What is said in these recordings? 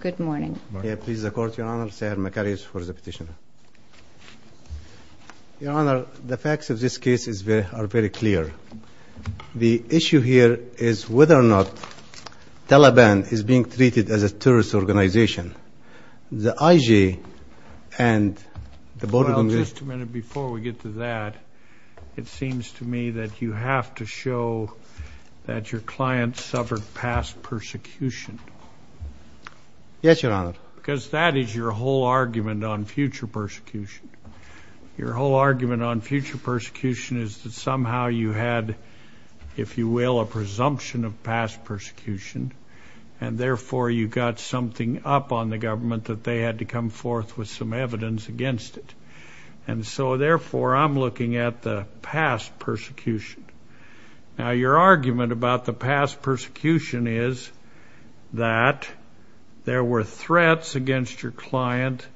Good morning. Please, the Court, Your Honor. Seher Makarious for the petition. Your Honor, the facts of this case are very clear. The issue here is whether or not Taliban is being treated as a terrorist organization. The IJ and the Board of Governors Well, just a minute before we get to that, it seems to me that you have to show that your client suffered past persecution. Yes, Your Honor. Because that is your whole argument on future persecution. Your whole argument on future persecution is that somehow you had, if you will, a presumption of past persecution, and therefore you got something up on the government that they had to come forth with some evidence against it. And so, therefore, I'm looking at the past persecution. Now, your argument about the past persecution is that there were threats against your client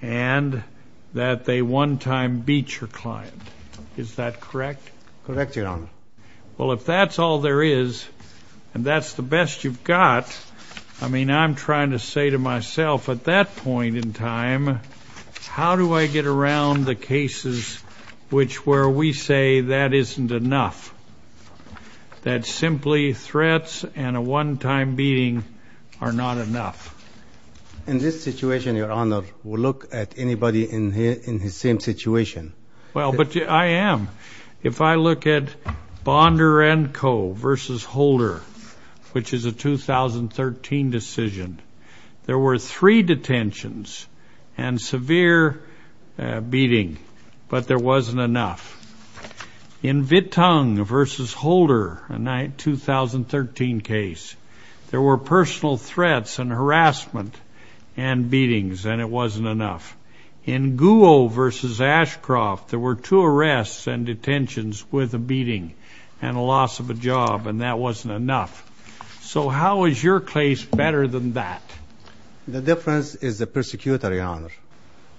and that they one time beat your client. Is that correct? Correct, Your Honor. Well, if that's all there is and that's the best you've got, I mean, I'm trying to say to myself at that point in time, how do I get around the cases which where we say that isn't enough, that simply threats and a one time beating are not enough? In this situation, Your Honor, we'll look at anybody in his same situation. Well, but I am. If I look at Bonder and Co. versus Holder, which is a 2013 decision, there were three detentions and severe beating, but there wasn't enough. In Vittung versus Holder, a 2013 case, there were personal threats and harassment and beatings, and it wasn't enough. In Guo versus Ashcroft, there were two arrests and detentions with a beating and a loss of a job, and that wasn't enough. So how is your case better than that? The difference is the persecutor, Your Honor.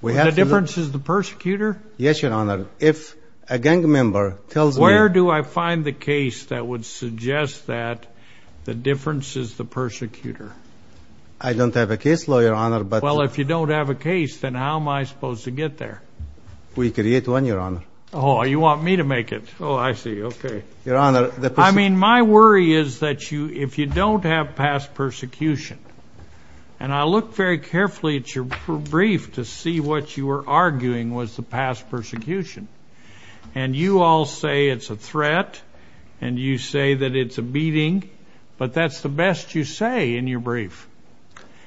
The difference is the persecutor? Yes, Your Honor. If a gang member tells me ---- Where do I find the case that would suggest that the difference is the persecutor? I don't have a case law, Your Honor, but ---- Well, if you don't have a case, then how am I supposed to get there? We create one, Your Honor. Oh, you want me to make it. Oh, I see. Okay. Your Honor, the ---- I mean, my worry is that if you don't have past persecution, and I looked very carefully at your brief to see what you were arguing was the past persecution, and you all say it's a threat and you say that it's a beating, but that's the best you say in your brief.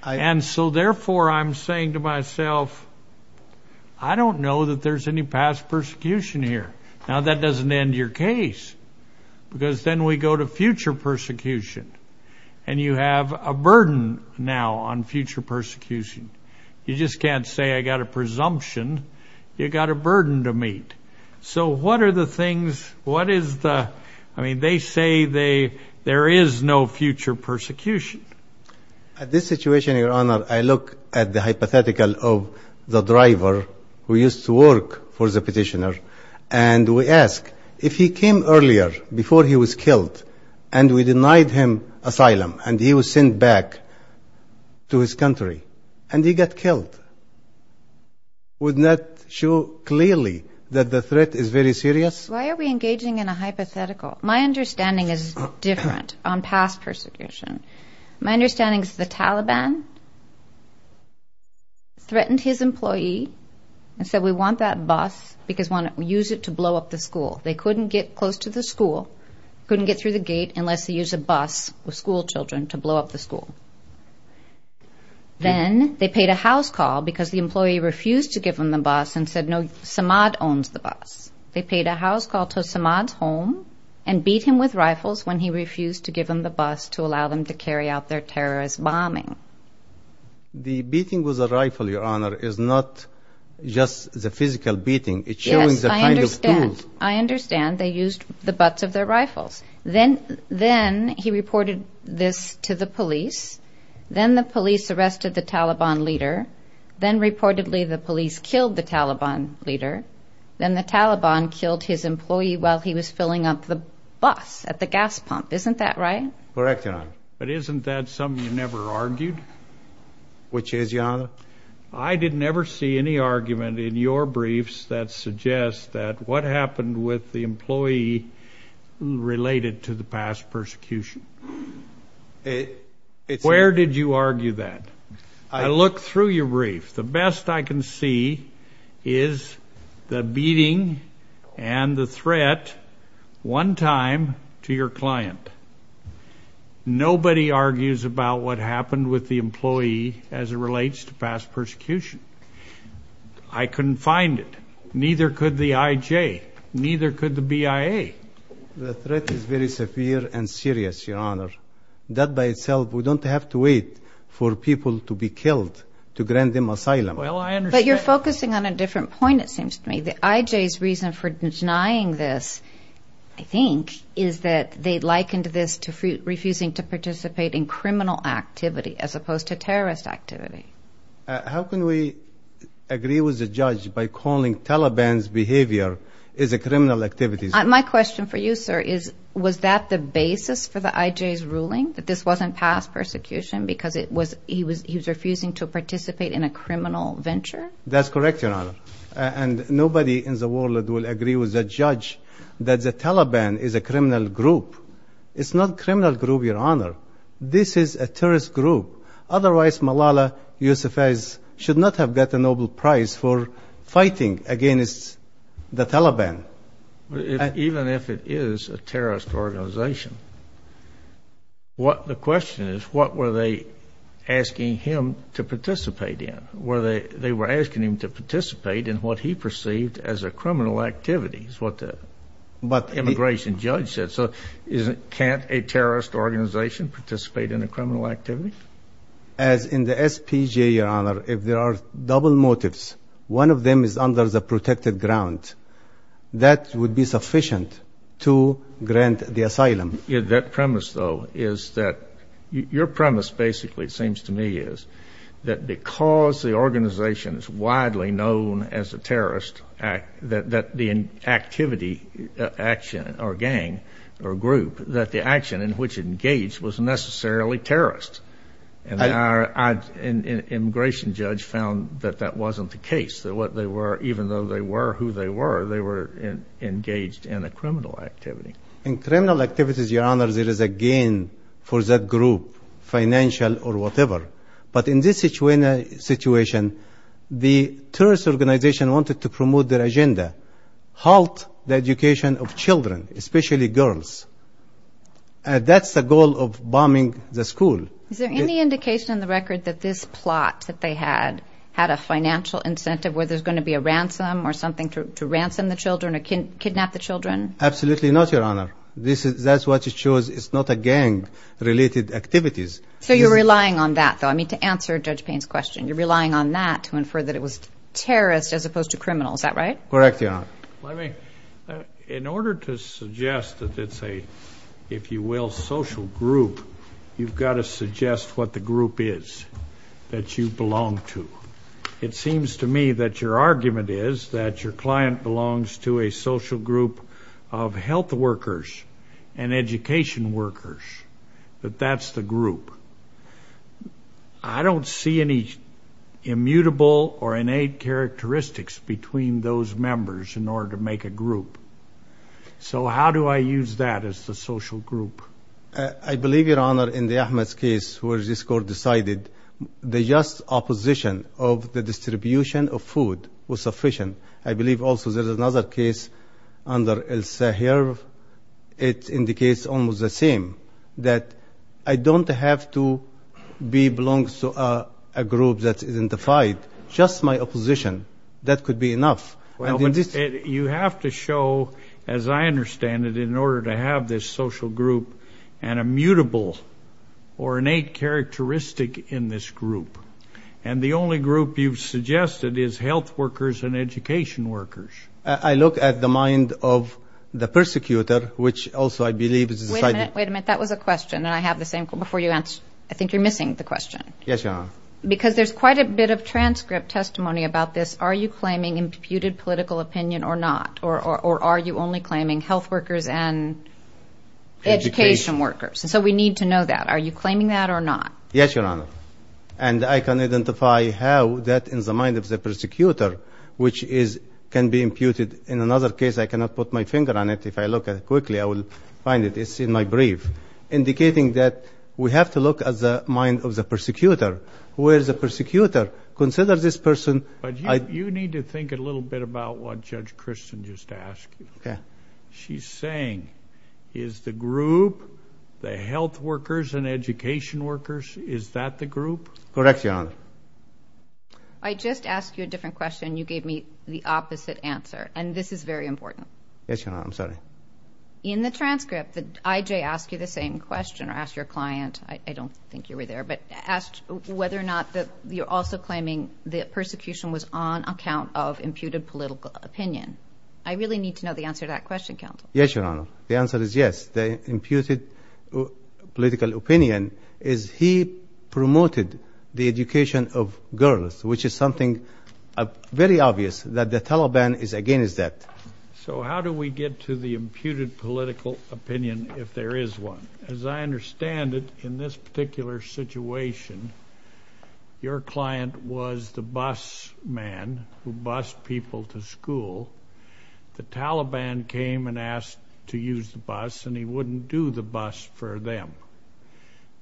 And so, therefore, I'm saying to myself, I don't know that there's any past persecution here. Now, that doesn't end your case because then we go to future persecution, and you have a burden now on future persecution. You just can't say I got a presumption. You got a burden to meet. So what are the things, what is the ---- I mean, they say there is no future persecution. At this situation, Your Honor, I look at the hypothetical of the driver who used to work for the petitioner, and we ask, if he came earlier before he was killed and we denied him asylum and he was sent back to his country and he got killed, wouldn't that show clearly that the threat is very serious? Why are we engaging in a hypothetical? My understanding is different on past persecution. My understanding is the Taliban threatened his employee and said, we want that bus because we want to use it to blow up the school. They couldn't get close to the school, couldn't get through the gate, unless they use a bus with schoolchildren to blow up the school. Then they paid a house call because the employee refused to give him the bus and said, no, Samad owns the bus. They paid a house call to Samad's home and beat him with rifles when he refused to give him the bus to allow them to carry out their terrorist bombing. The beating with a rifle, Your Honor, is not just the physical beating. It's showing the kind of tools. Yes, I understand. I understand they used the butts of their rifles. Then he reported this to the police. Then the police arrested the Taliban leader. Then reportedly the police killed the Taliban leader. Then the Taliban killed his employee while he was filling up the bus at the gas pump. Isn't that right? Correct, Your Honor. But isn't that something you never argued? Which is, Your Honor? I did never see any argument in your briefs that suggests that what happened with the employee related to the past persecution. Where did you argue that? I looked through your brief. The best I can see is the beating and the threat one time to your client. Nobody argues about what happened with the employee as it relates to past persecution. I couldn't find it. Neither could the IJ. Neither could the BIA. The threat is very severe and serious, Your Honor. That by itself, we don't have to wait for people to be killed to grant them asylum. But you're focusing on a different point, it seems to me. The IJ's reason for denying this, I think, is that they likened this to refusing to participate in criminal activity as opposed to terrorist activity. How can we agree with the judge by calling Taliban's behavior as a criminal activity? My question for you, sir, is was that the basis for the IJ's ruling that this wasn't past persecution because he was refusing to participate in a criminal venture? That's correct, Your Honor. And nobody in the world will agree with the judge that the Taliban is a criminal group. It's not a criminal group, Your Honor. This is a terrorist group. Otherwise, Malala Yousafzai should not have got the Nobel Prize for fighting against the Taliban. Even if it is a terrorist organization, what the question is, what were they asking him to participate in? They were asking him to participate in what he perceived as a criminal activity is what the immigration judge said. So can't a terrorist organization participate in a criminal activity? As in the SPGA, Your Honor, if there are double motives, one of them is under the protected ground. That would be sufficient to grant the asylum. That premise, though, is that your premise basically, it seems to me, is that because the organization is widely known as a terrorist, that the activity, action or gang or group, that the action in which it engaged was necessarily terrorist. And our immigration judge found that that wasn't the case, that what they were, even though they were who they were, they were engaged in a criminal activity. In criminal activities, Your Honor, there is a gain for that group, financial or whatever. But in this situation, the terrorist organization wanted to promote their agenda, halt the education of children, especially girls. That's the goal of bombing the school. Is there any indication in the record that this plot that they had had a financial incentive, where there's going to be a ransom or something to ransom the children or kidnap the children? Absolutely not, Your Honor. That's what it shows. It's not a gang-related activities. So you're relying on that, though. I mean, to answer Judge Payne's question, you're relying on that to infer that it was terrorist as opposed to criminal. Is that right? Correct, Your Honor. In order to suggest that it's a, if you will, social group, you've got to suggest what the group is that you belong to. It seems to me that your argument is that your client belongs to a social group of health workers and education workers, that that's the group. I don't see any immutable or innate characteristics between those members in order to make a group. So how do I use that as the social group? I believe, Your Honor, in the Ahmed's case where this court decided the just opposition of the distribution of food was sufficient. I believe also there's another case under El-Sahir. It indicates almost the same, that I don't have to belong to a group that isn't defied, just my opposition. That could be enough. You have to show, as I understand it, in order to have this social group, an immutable or innate characteristic in this group. And the only group you've suggested is health workers and education workers. I look at the mind of the persecutor, which also I believe is decided. Wait a minute, wait a minute. That was a question, and I have the same before you answer. I think you're missing the question. Yes, Your Honor. Because there's quite a bit of transcript testimony about this. Are you claiming imputed political opinion or not? Or are you only claiming health workers and education workers? So we need to know that. Are you claiming that or not? Yes, Your Honor. And I can identify how that is the mind of the persecutor, which can be imputed. In another case, I cannot put my finger on it. If I look at it quickly, I will find it. It's in my brief, indicating that we have to look at the mind of the persecutor. Where is the persecutor? Consider this person. You need to think a little bit about what Judge Kristen just asked you. Okay. What she's saying is the group, the health workers and education workers, is that the group? Correct, Your Honor. I just asked you a different question. You gave me the opposite answer, and this is very important. Yes, Your Honor. I'm sorry. In the transcript, I.J. asked you the same question or asked your client. I don't think you were there. But asked whether or not you're also claiming the persecution was on account of imputed political opinion. I really need to know the answer to that question, counsel. Yes, Your Honor. The answer is yes. The imputed political opinion is he promoted the education of girls, which is something very obvious that the Taliban is against that. So how do we get to the imputed political opinion if there is one? As I understand it, in this particular situation, your client was the bus man who bussed people to school. The Taliban came and asked to use the bus, and he wouldn't do the bus for them.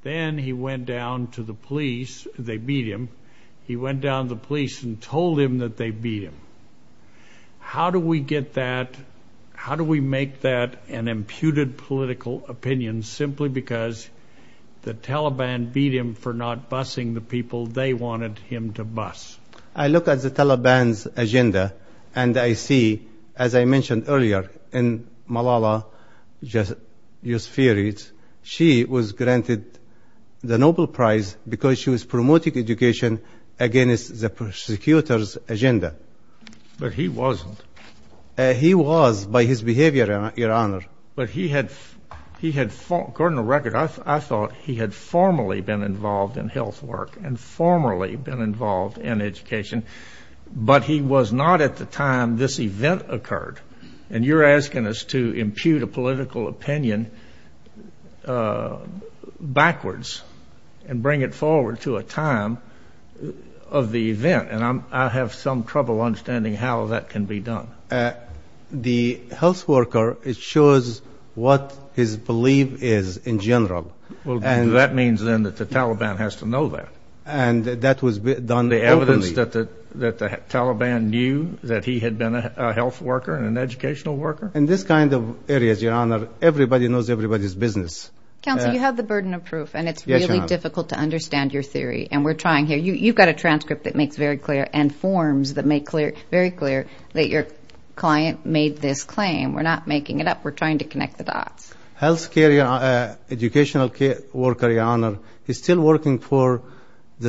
Then he went down to the police. They beat him. He went down to the police and told them that they beat him. How do we get that? How do we make that an imputed political opinion simply because the Taliban beat him for not bussing the people they wanted him to bus? I look at the Taliban's agenda, and I see, as I mentioned earlier, in Malala Yousafzai, she was granted the Nobel Prize because she was promoting education against the persecutors' agenda. But he wasn't. He was by his behavior, Your Honor. But he had, according to the record, I thought he had formerly been involved in health work and formerly been involved in education, but he was not at the time this event occurred. And you're asking us to impute a political opinion backwards and bring it forward to a time of the event. And I have some trouble understanding how that can be done. The health worker, it shows what his belief is in general. Well, that means, then, that the Taliban has to know that. The evidence that the Taliban knew that he had been a health worker and an educational worker? In this kind of areas, Your Honor, everybody knows everybody's business. Counsel, you have the burden of proof, and it's really difficult to understand your theory. And we're trying here. You've got a transcript that makes very clear and forms that make very clear that your client made this claim. We're not making it up. We're trying to connect the dots. Health care, educational worker, Your Honor, is still working for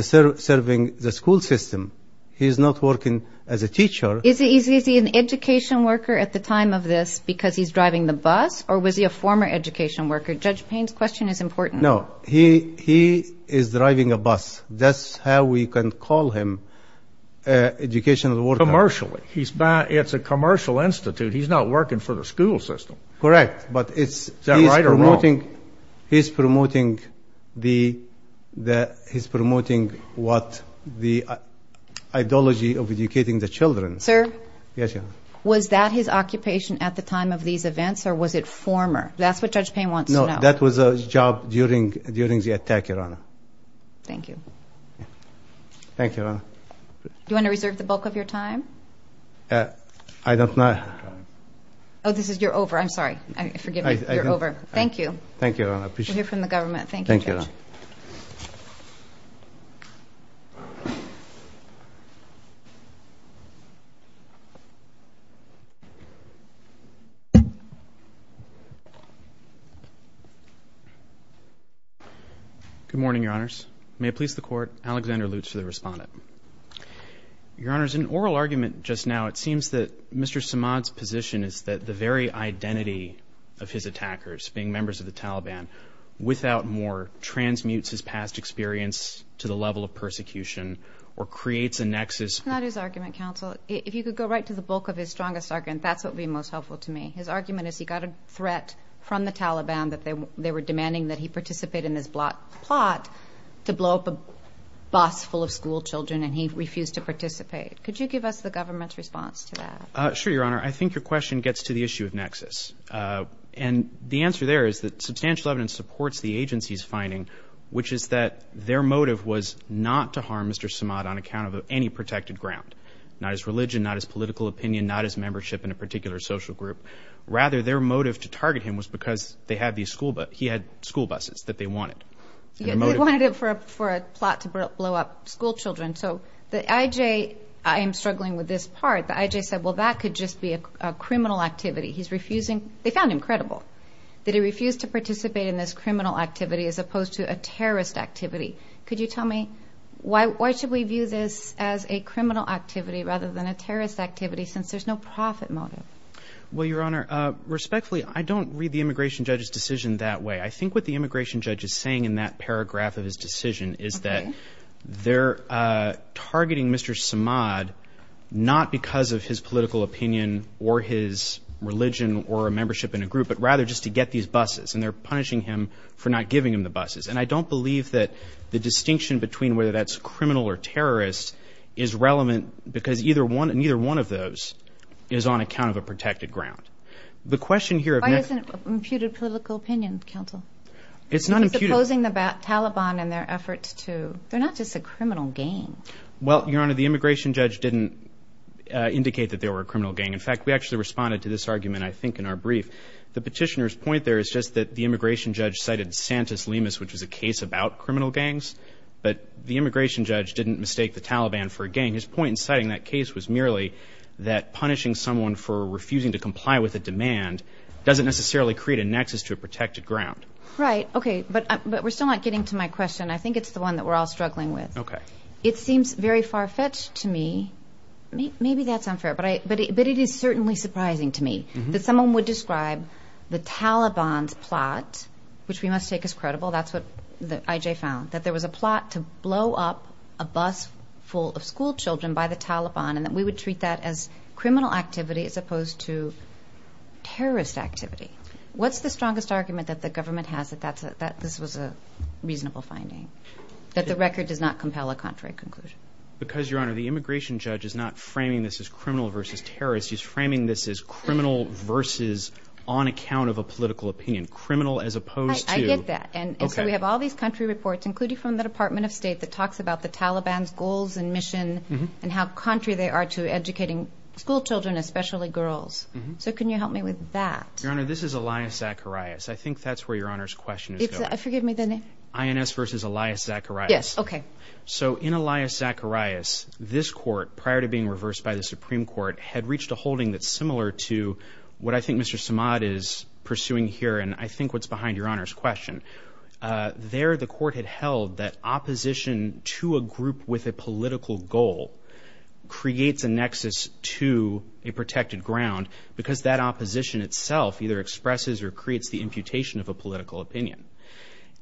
serving the school system. He is not working as a teacher. Is he an education worker at the time of this because he's driving the bus, or was he a former education worker? Judge Payne's question is important. No. He is driving a bus. That's how we can call him an educational worker. Commercially. It's a commercial institute. He's not working for the school system. Correct, but he's promoting what the ideology of educating the children. Sir? Yes, Your Honor. Was that his occupation at the time of these events, or was it former? That's what Judge Payne wants to know. No, that was his job during the attack, Your Honor. Thank you. Thank you, Your Honor. Do you want to reserve the bulk of your time? I don't know. Oh, this is your over. I'm sorry. Forgive me. You're over. Thank you. Thank you, Your Honor. We hear from the government. Thank you, Judge. Thank you, Your Honor. Good morning, Your Honors. May it please the Court, Alexander Lutz for the respondent. Your Honors, in an oral argument just now, it seems that Mr. Samad's position is that the very identity of his attackers, being members of the Taliban, without more, transmutes his past experience to the level of persecution or creates a nexus. It's not his argument, counsel. If you could go right to the bulk of his strongest argument, that's what would be most helpful to me. His argument is he got a threat from the Taliban that they were demanding that he Could you give us the government's response to that? Sure, Your Honor. I think your question gets to the issue of nexus. And the answer there is that substantial evidence supports the agency's finding, which is that their motive was not to harm Mr. Samad on account of any protected ground, not his religion, not his political opinion, not his membership in a particular social group. Rather, their motive to target him was because he had school buses that they wanted. They wanted it for a plot to blow up school children. So the I.J. I am struggling with this part. The I.J. said, well, that could just be a criminal activity. He's refusing. They found him credible that he refused to participate in this criminal activity as opposed to a terrorist activity. Could you tell me why should we view this as a criminal activity rather than a terrorist activity, since there's no profit motive? Well, Your Honor, respectfully, I don't read the immigration judge's decision that way. I think what the immigration judge is saying in that paragraph of his decision is that they're targeting Mr. Samad not because of his political opinion or his religion or a membership in a group, but rather just to get these buses. And they're punishing him for not giving him the buses. And I don't believe that the distinction between whether that's criminal or terrorist is relevant, because neither one of those is on account of a protected ground. Why isn't it imputed political opinion, counsel? It's not imputed. He's opposing the Taliban in their efforts to they're not just a criminal gang. Well, Your Honor, the immigration judge didn't indicate that they were a criminal gang. In fact, we actually responded to this argument, I think, in our brief. The petitioner's point there is just that the immigration judge cited Santus Limas, which was a case about criminal gangs, but the immigration judge didn't mistake the Taliban for a gang. And his point in citing that case was merely that punishing someone for refusing to comply with a demand doesn't necessarily create a nexus to a protected ground. Right. Okay. But we're still not getting to my question. I think it's the one that we're all struggling with. Okay. It seems very far-fetched to me. Maybe that's unfair, but it is certainly surprising to me that someone would describe the Taliban's plot, which we must take as credible, that's what I.J. found, that there was a plot to blow up a bus full of schoolchildren by the Taliban and that we would treat that as criminal activity as opposed to terrorist activity. What's the strongest argument that the government has that this was a reasonable finding, that the record does not compel a contrary conclusion? Because, Your Honor, the immigration judge is not framing this as criminal versus terrorist. He's framing this as criminal versus on account of a political opinion, criminal as opposed to... I get that. Okay. We have all these country reports, including from the Department of State, that talks about the Taliban's goals and mission and how contrary they are to educating schoolchildren, especially girls. So can you help me with that? Your Honor, this is Elias Zacharias. I think that's where Your Honor's question is going. Is that? Forgive me the name. INS versus Elias Zacharias. Yes. Okay. So in Elias Zacharias, this court, prior to being reversed by the Supreme Court, had reached a holding that's similar to what I think Mr. Samad is pursuing here and I think what's behind Your Honor's question. There, the court had held that opposition to a group with a political goal creates a nexus to a protected ground because that opposition itself either expresses or creates the imputation of a political opinion.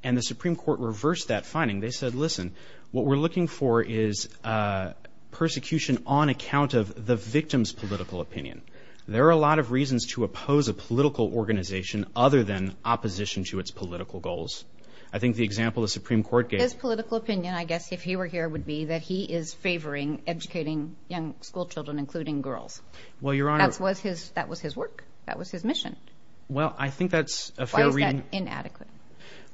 And the Supreme Court reversed that finding. They said, listen, what we're looking for is persecution on account of the victim's political opinion. There are a lot of reasons to oppose a political organization other than opposition to its political goals. I think the example the Supreme Court gave. His political opinion, I guess, if he were here, would be that he is favoring educating young schoolchildren, including girls. Well, Your Honor. That was his work. That was his mission. Well, I think that's a fair reading. Why is that inadequate?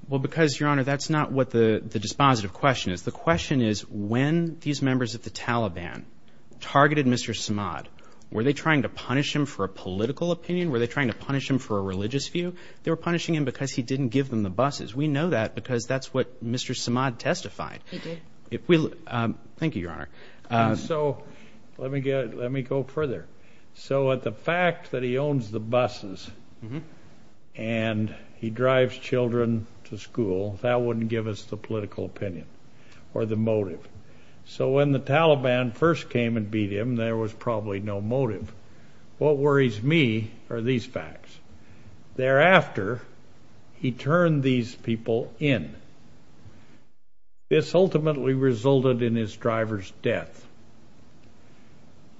Well, because, Your Honor, that's not what the dispositive question is. The question is when these members of the Taliban targeted Mr. Samad, were they trying to punish him for a political opinion? Were they trying to punish him for a religious view? They were punishing him because he didn't give them the buses. We know that because that's what Mr. Samad testified. He did. Thank you, Your Honor. So let me go further. So the fact that he owns the buses and he drives children to school, that wouldn't give us the political opinion or the motive. So when the Taliban first came and beat him, there was probably no motive. What worries me are these facts. Thereafter, he turned these people in. This ultimately resulted in his driver's death.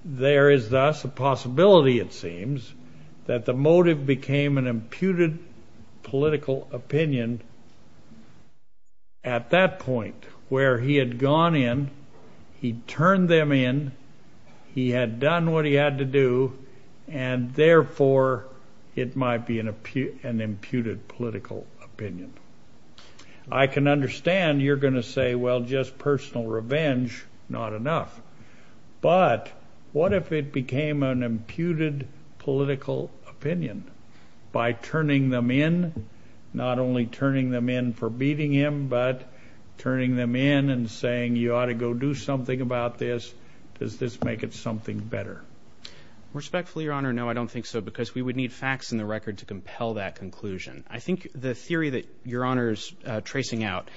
There is thus a possibility, it seems, that the motive became an imputed political opinion at that point where he had gone in. He turned them in. He had done what he had to do, and therefore, it might be an imputed political opinion. I can understand you're going to say, well, just personal revenge, not enough. But what if it became an imputed political opinion by turning them in, not only turning them in for beating him, but turning them in and saying you ought to go do something about this? Does this make it something better? Respectfully, Your Honor, no, I don't think so because we would need facts in the record to compel that conclusion. I think the theory that Your Honor is tracing out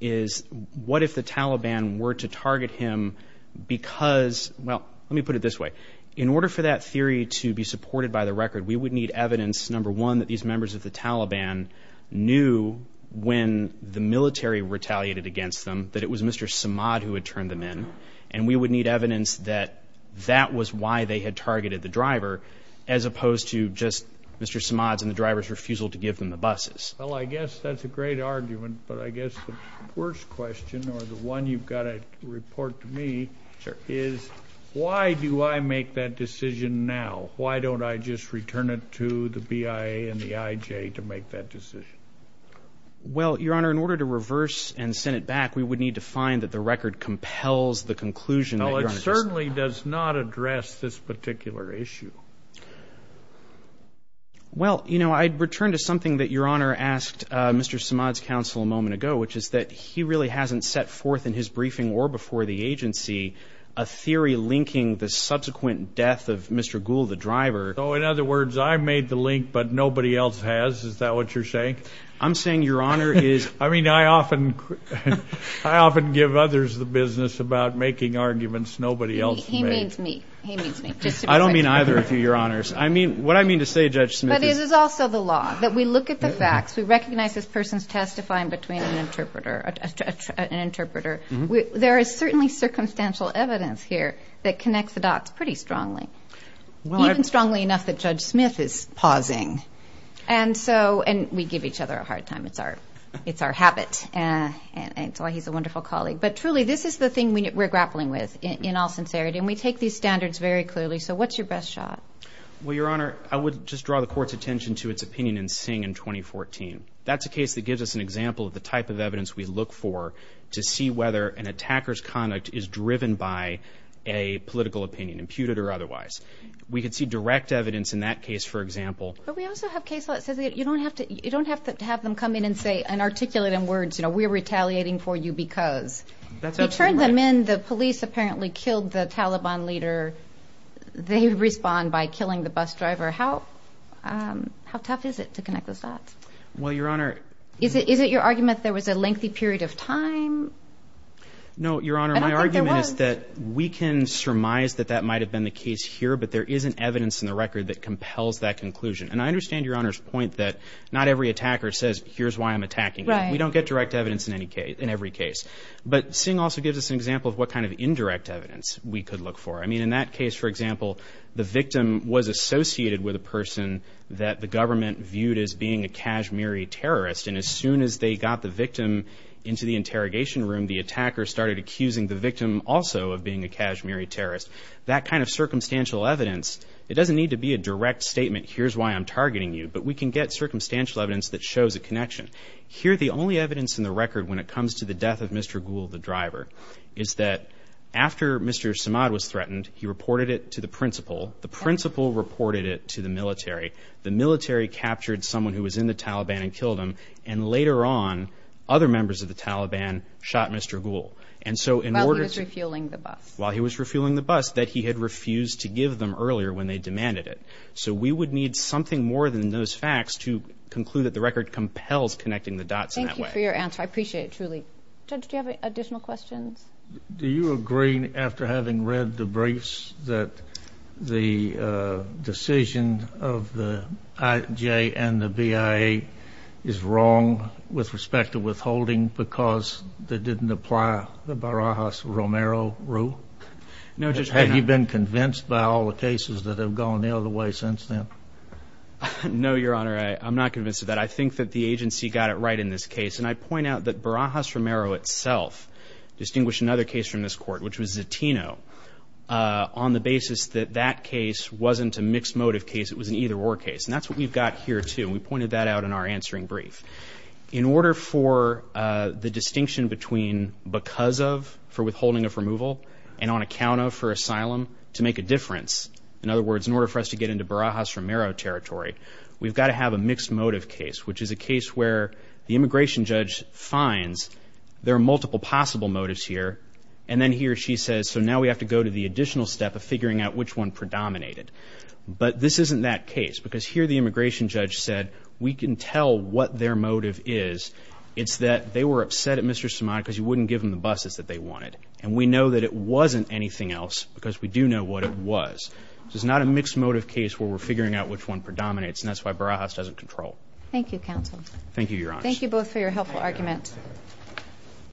is what if the Taliban were to target him because, well, let me put it this way, in order for that theory to be supported by the record, we would need evidence, number one, that these members of the Taliban knew when the military retaliated against them that it was Mr. Samad who had turned them in, and we would need evidence that that was why they had targeted the driver as opposed to just Mr. Samad's and the driver's refusal to give them the buses. Well, I guess that's a great argument, but I guess the worst question, or the one you've got to report to me, is why do I make that decision now? Why don't I just return it to the BIA and the IJ to make that decision? Well, Your Honor, in order to reverse and send it back, we would need to find that the record compels the conclusion that Your Honor just made. It does not address this particular issue. Well, you know, I'd return to something that Your Honor asked Mr. Samad's counsel a moment ago, which is that he really hasn't set forth in his briefing or before the agency a theory linking the subsequent death of Mr. Ghul, the driver. Oh, in other words, I made the link, but nobody else has? Is that what you're saying? I'm saying Your Honor is— He means me. He means me. I don't mean either of you, Your Honors. What I mean to say, Judge Smith, is— But it is also the law that we look at the facts. We recognize this person's testifying between an interpreter. There is certainly circumstantial evidence here that connects the dots pretty strongly, even strongly enough that Judge Smith is pausing. And we give each other a hard time. It's our habit, and that's why he's a wonderful colleague. But truly, this is the thing we're grappling with in all sincerity, and we take these standards very clearly. So what's your best shot? Well, Your Honor, I would just draw the court's attention to its opinion in Singh in 2014. That's a case that gives us an example of the type of evidence we look for to see whether an attacker's conduct is driven by a political opinion, imputed or otherwise. We could see direct evidence in that case, for example. But we also have cases that say you don't have to have them come in and say and articulate in words, you know, we're retaliating for you because. That's absolutely right. You turn them in, the police apparently killed the Taliban leader, they respond by killing the bus driver. How tough is it to connect those dots? Well, Your Honor. Is it your argument there was a lengthy period of time? No, Your Honor. I don't think there was. My argument is that we can surmise that that might have been the case here, but there isn't evidence in the record that compels that conclusion. And I understand Your Honor's point that not every attacker says here's why I'm attacking you. We don't get direct evidence in every case. But Singh also gives us an example of what kind of indirect evidence we could look for. I mean, in that case, for example, the victim was associated with a person that the government viewed as being a Kashmiri terrorist, and as soon as they got the victim into the interrogation room, the attacker started accusing the victim also of being a Kashmiri terrorist. That kind of circumstantial evidence, it doesn't need to be a direct statement, here's why I'm targeting you, but we can get circumstantial evidence that shows a connection. Here, the only evidence in the record when it comes to the death of Mr. Ghul, the driver, is that after Mr. Samad was threatened, he reported it to the principal. The principal reported it to the military. The military captured someone who was in the Taliban and killed him, and later on other members of the Taliban shot Mr. Ghul. While he was refueling the bus. While he was refueling the bus that he had refused to give them earlier when they demanded it. So we would need something more than those facts to conclude that the record compels connecting the dots in that way. Thank you for your answer. I appreciate it truly. Judge, do you have additional questions? Do you agree, after having read the briefs, that the decision of the IJ and the BIA is wrong with respect to withholding because they didn't apply the Barajas-Romero rule? Have you been convinced by all the cases that have gone the other way since then? No, Your Honor. I'm not convinced of that. I think that the agency got it right in this case, and I point out that Barajas-Romero itself distinguished another case from this court, which was Zatino, on the basis that that case wasn't a mixed motive case. It was an either-or case, and that's what we've got here, too. We pointed that out in our answering brief. In order for the distinction between because of for withholding of removal and on account of for asylum to make a difference, in other words, in order for us to get into Barajas-Romero territory, we've got to have a mixed motive case, which is a case where the immigration judge finds there are multiple possible motives here, and then he or she says, so now we have to go to the additional step of figuring out which one predominated. But this isn't that case because here the immigration judge said, we can tell what their motive is. It's that they were upset at Mr. Somaya because you wouldn't give them the buses that they wanted. And we know that it wasn't anything else because we do know what it was. So it's not a mixed motive case where we're figuring out which one predominates, and that's why Barajas doesn't control. Thank you, counsel. Thank you, Your Honor. Thank you both for your helpful argument.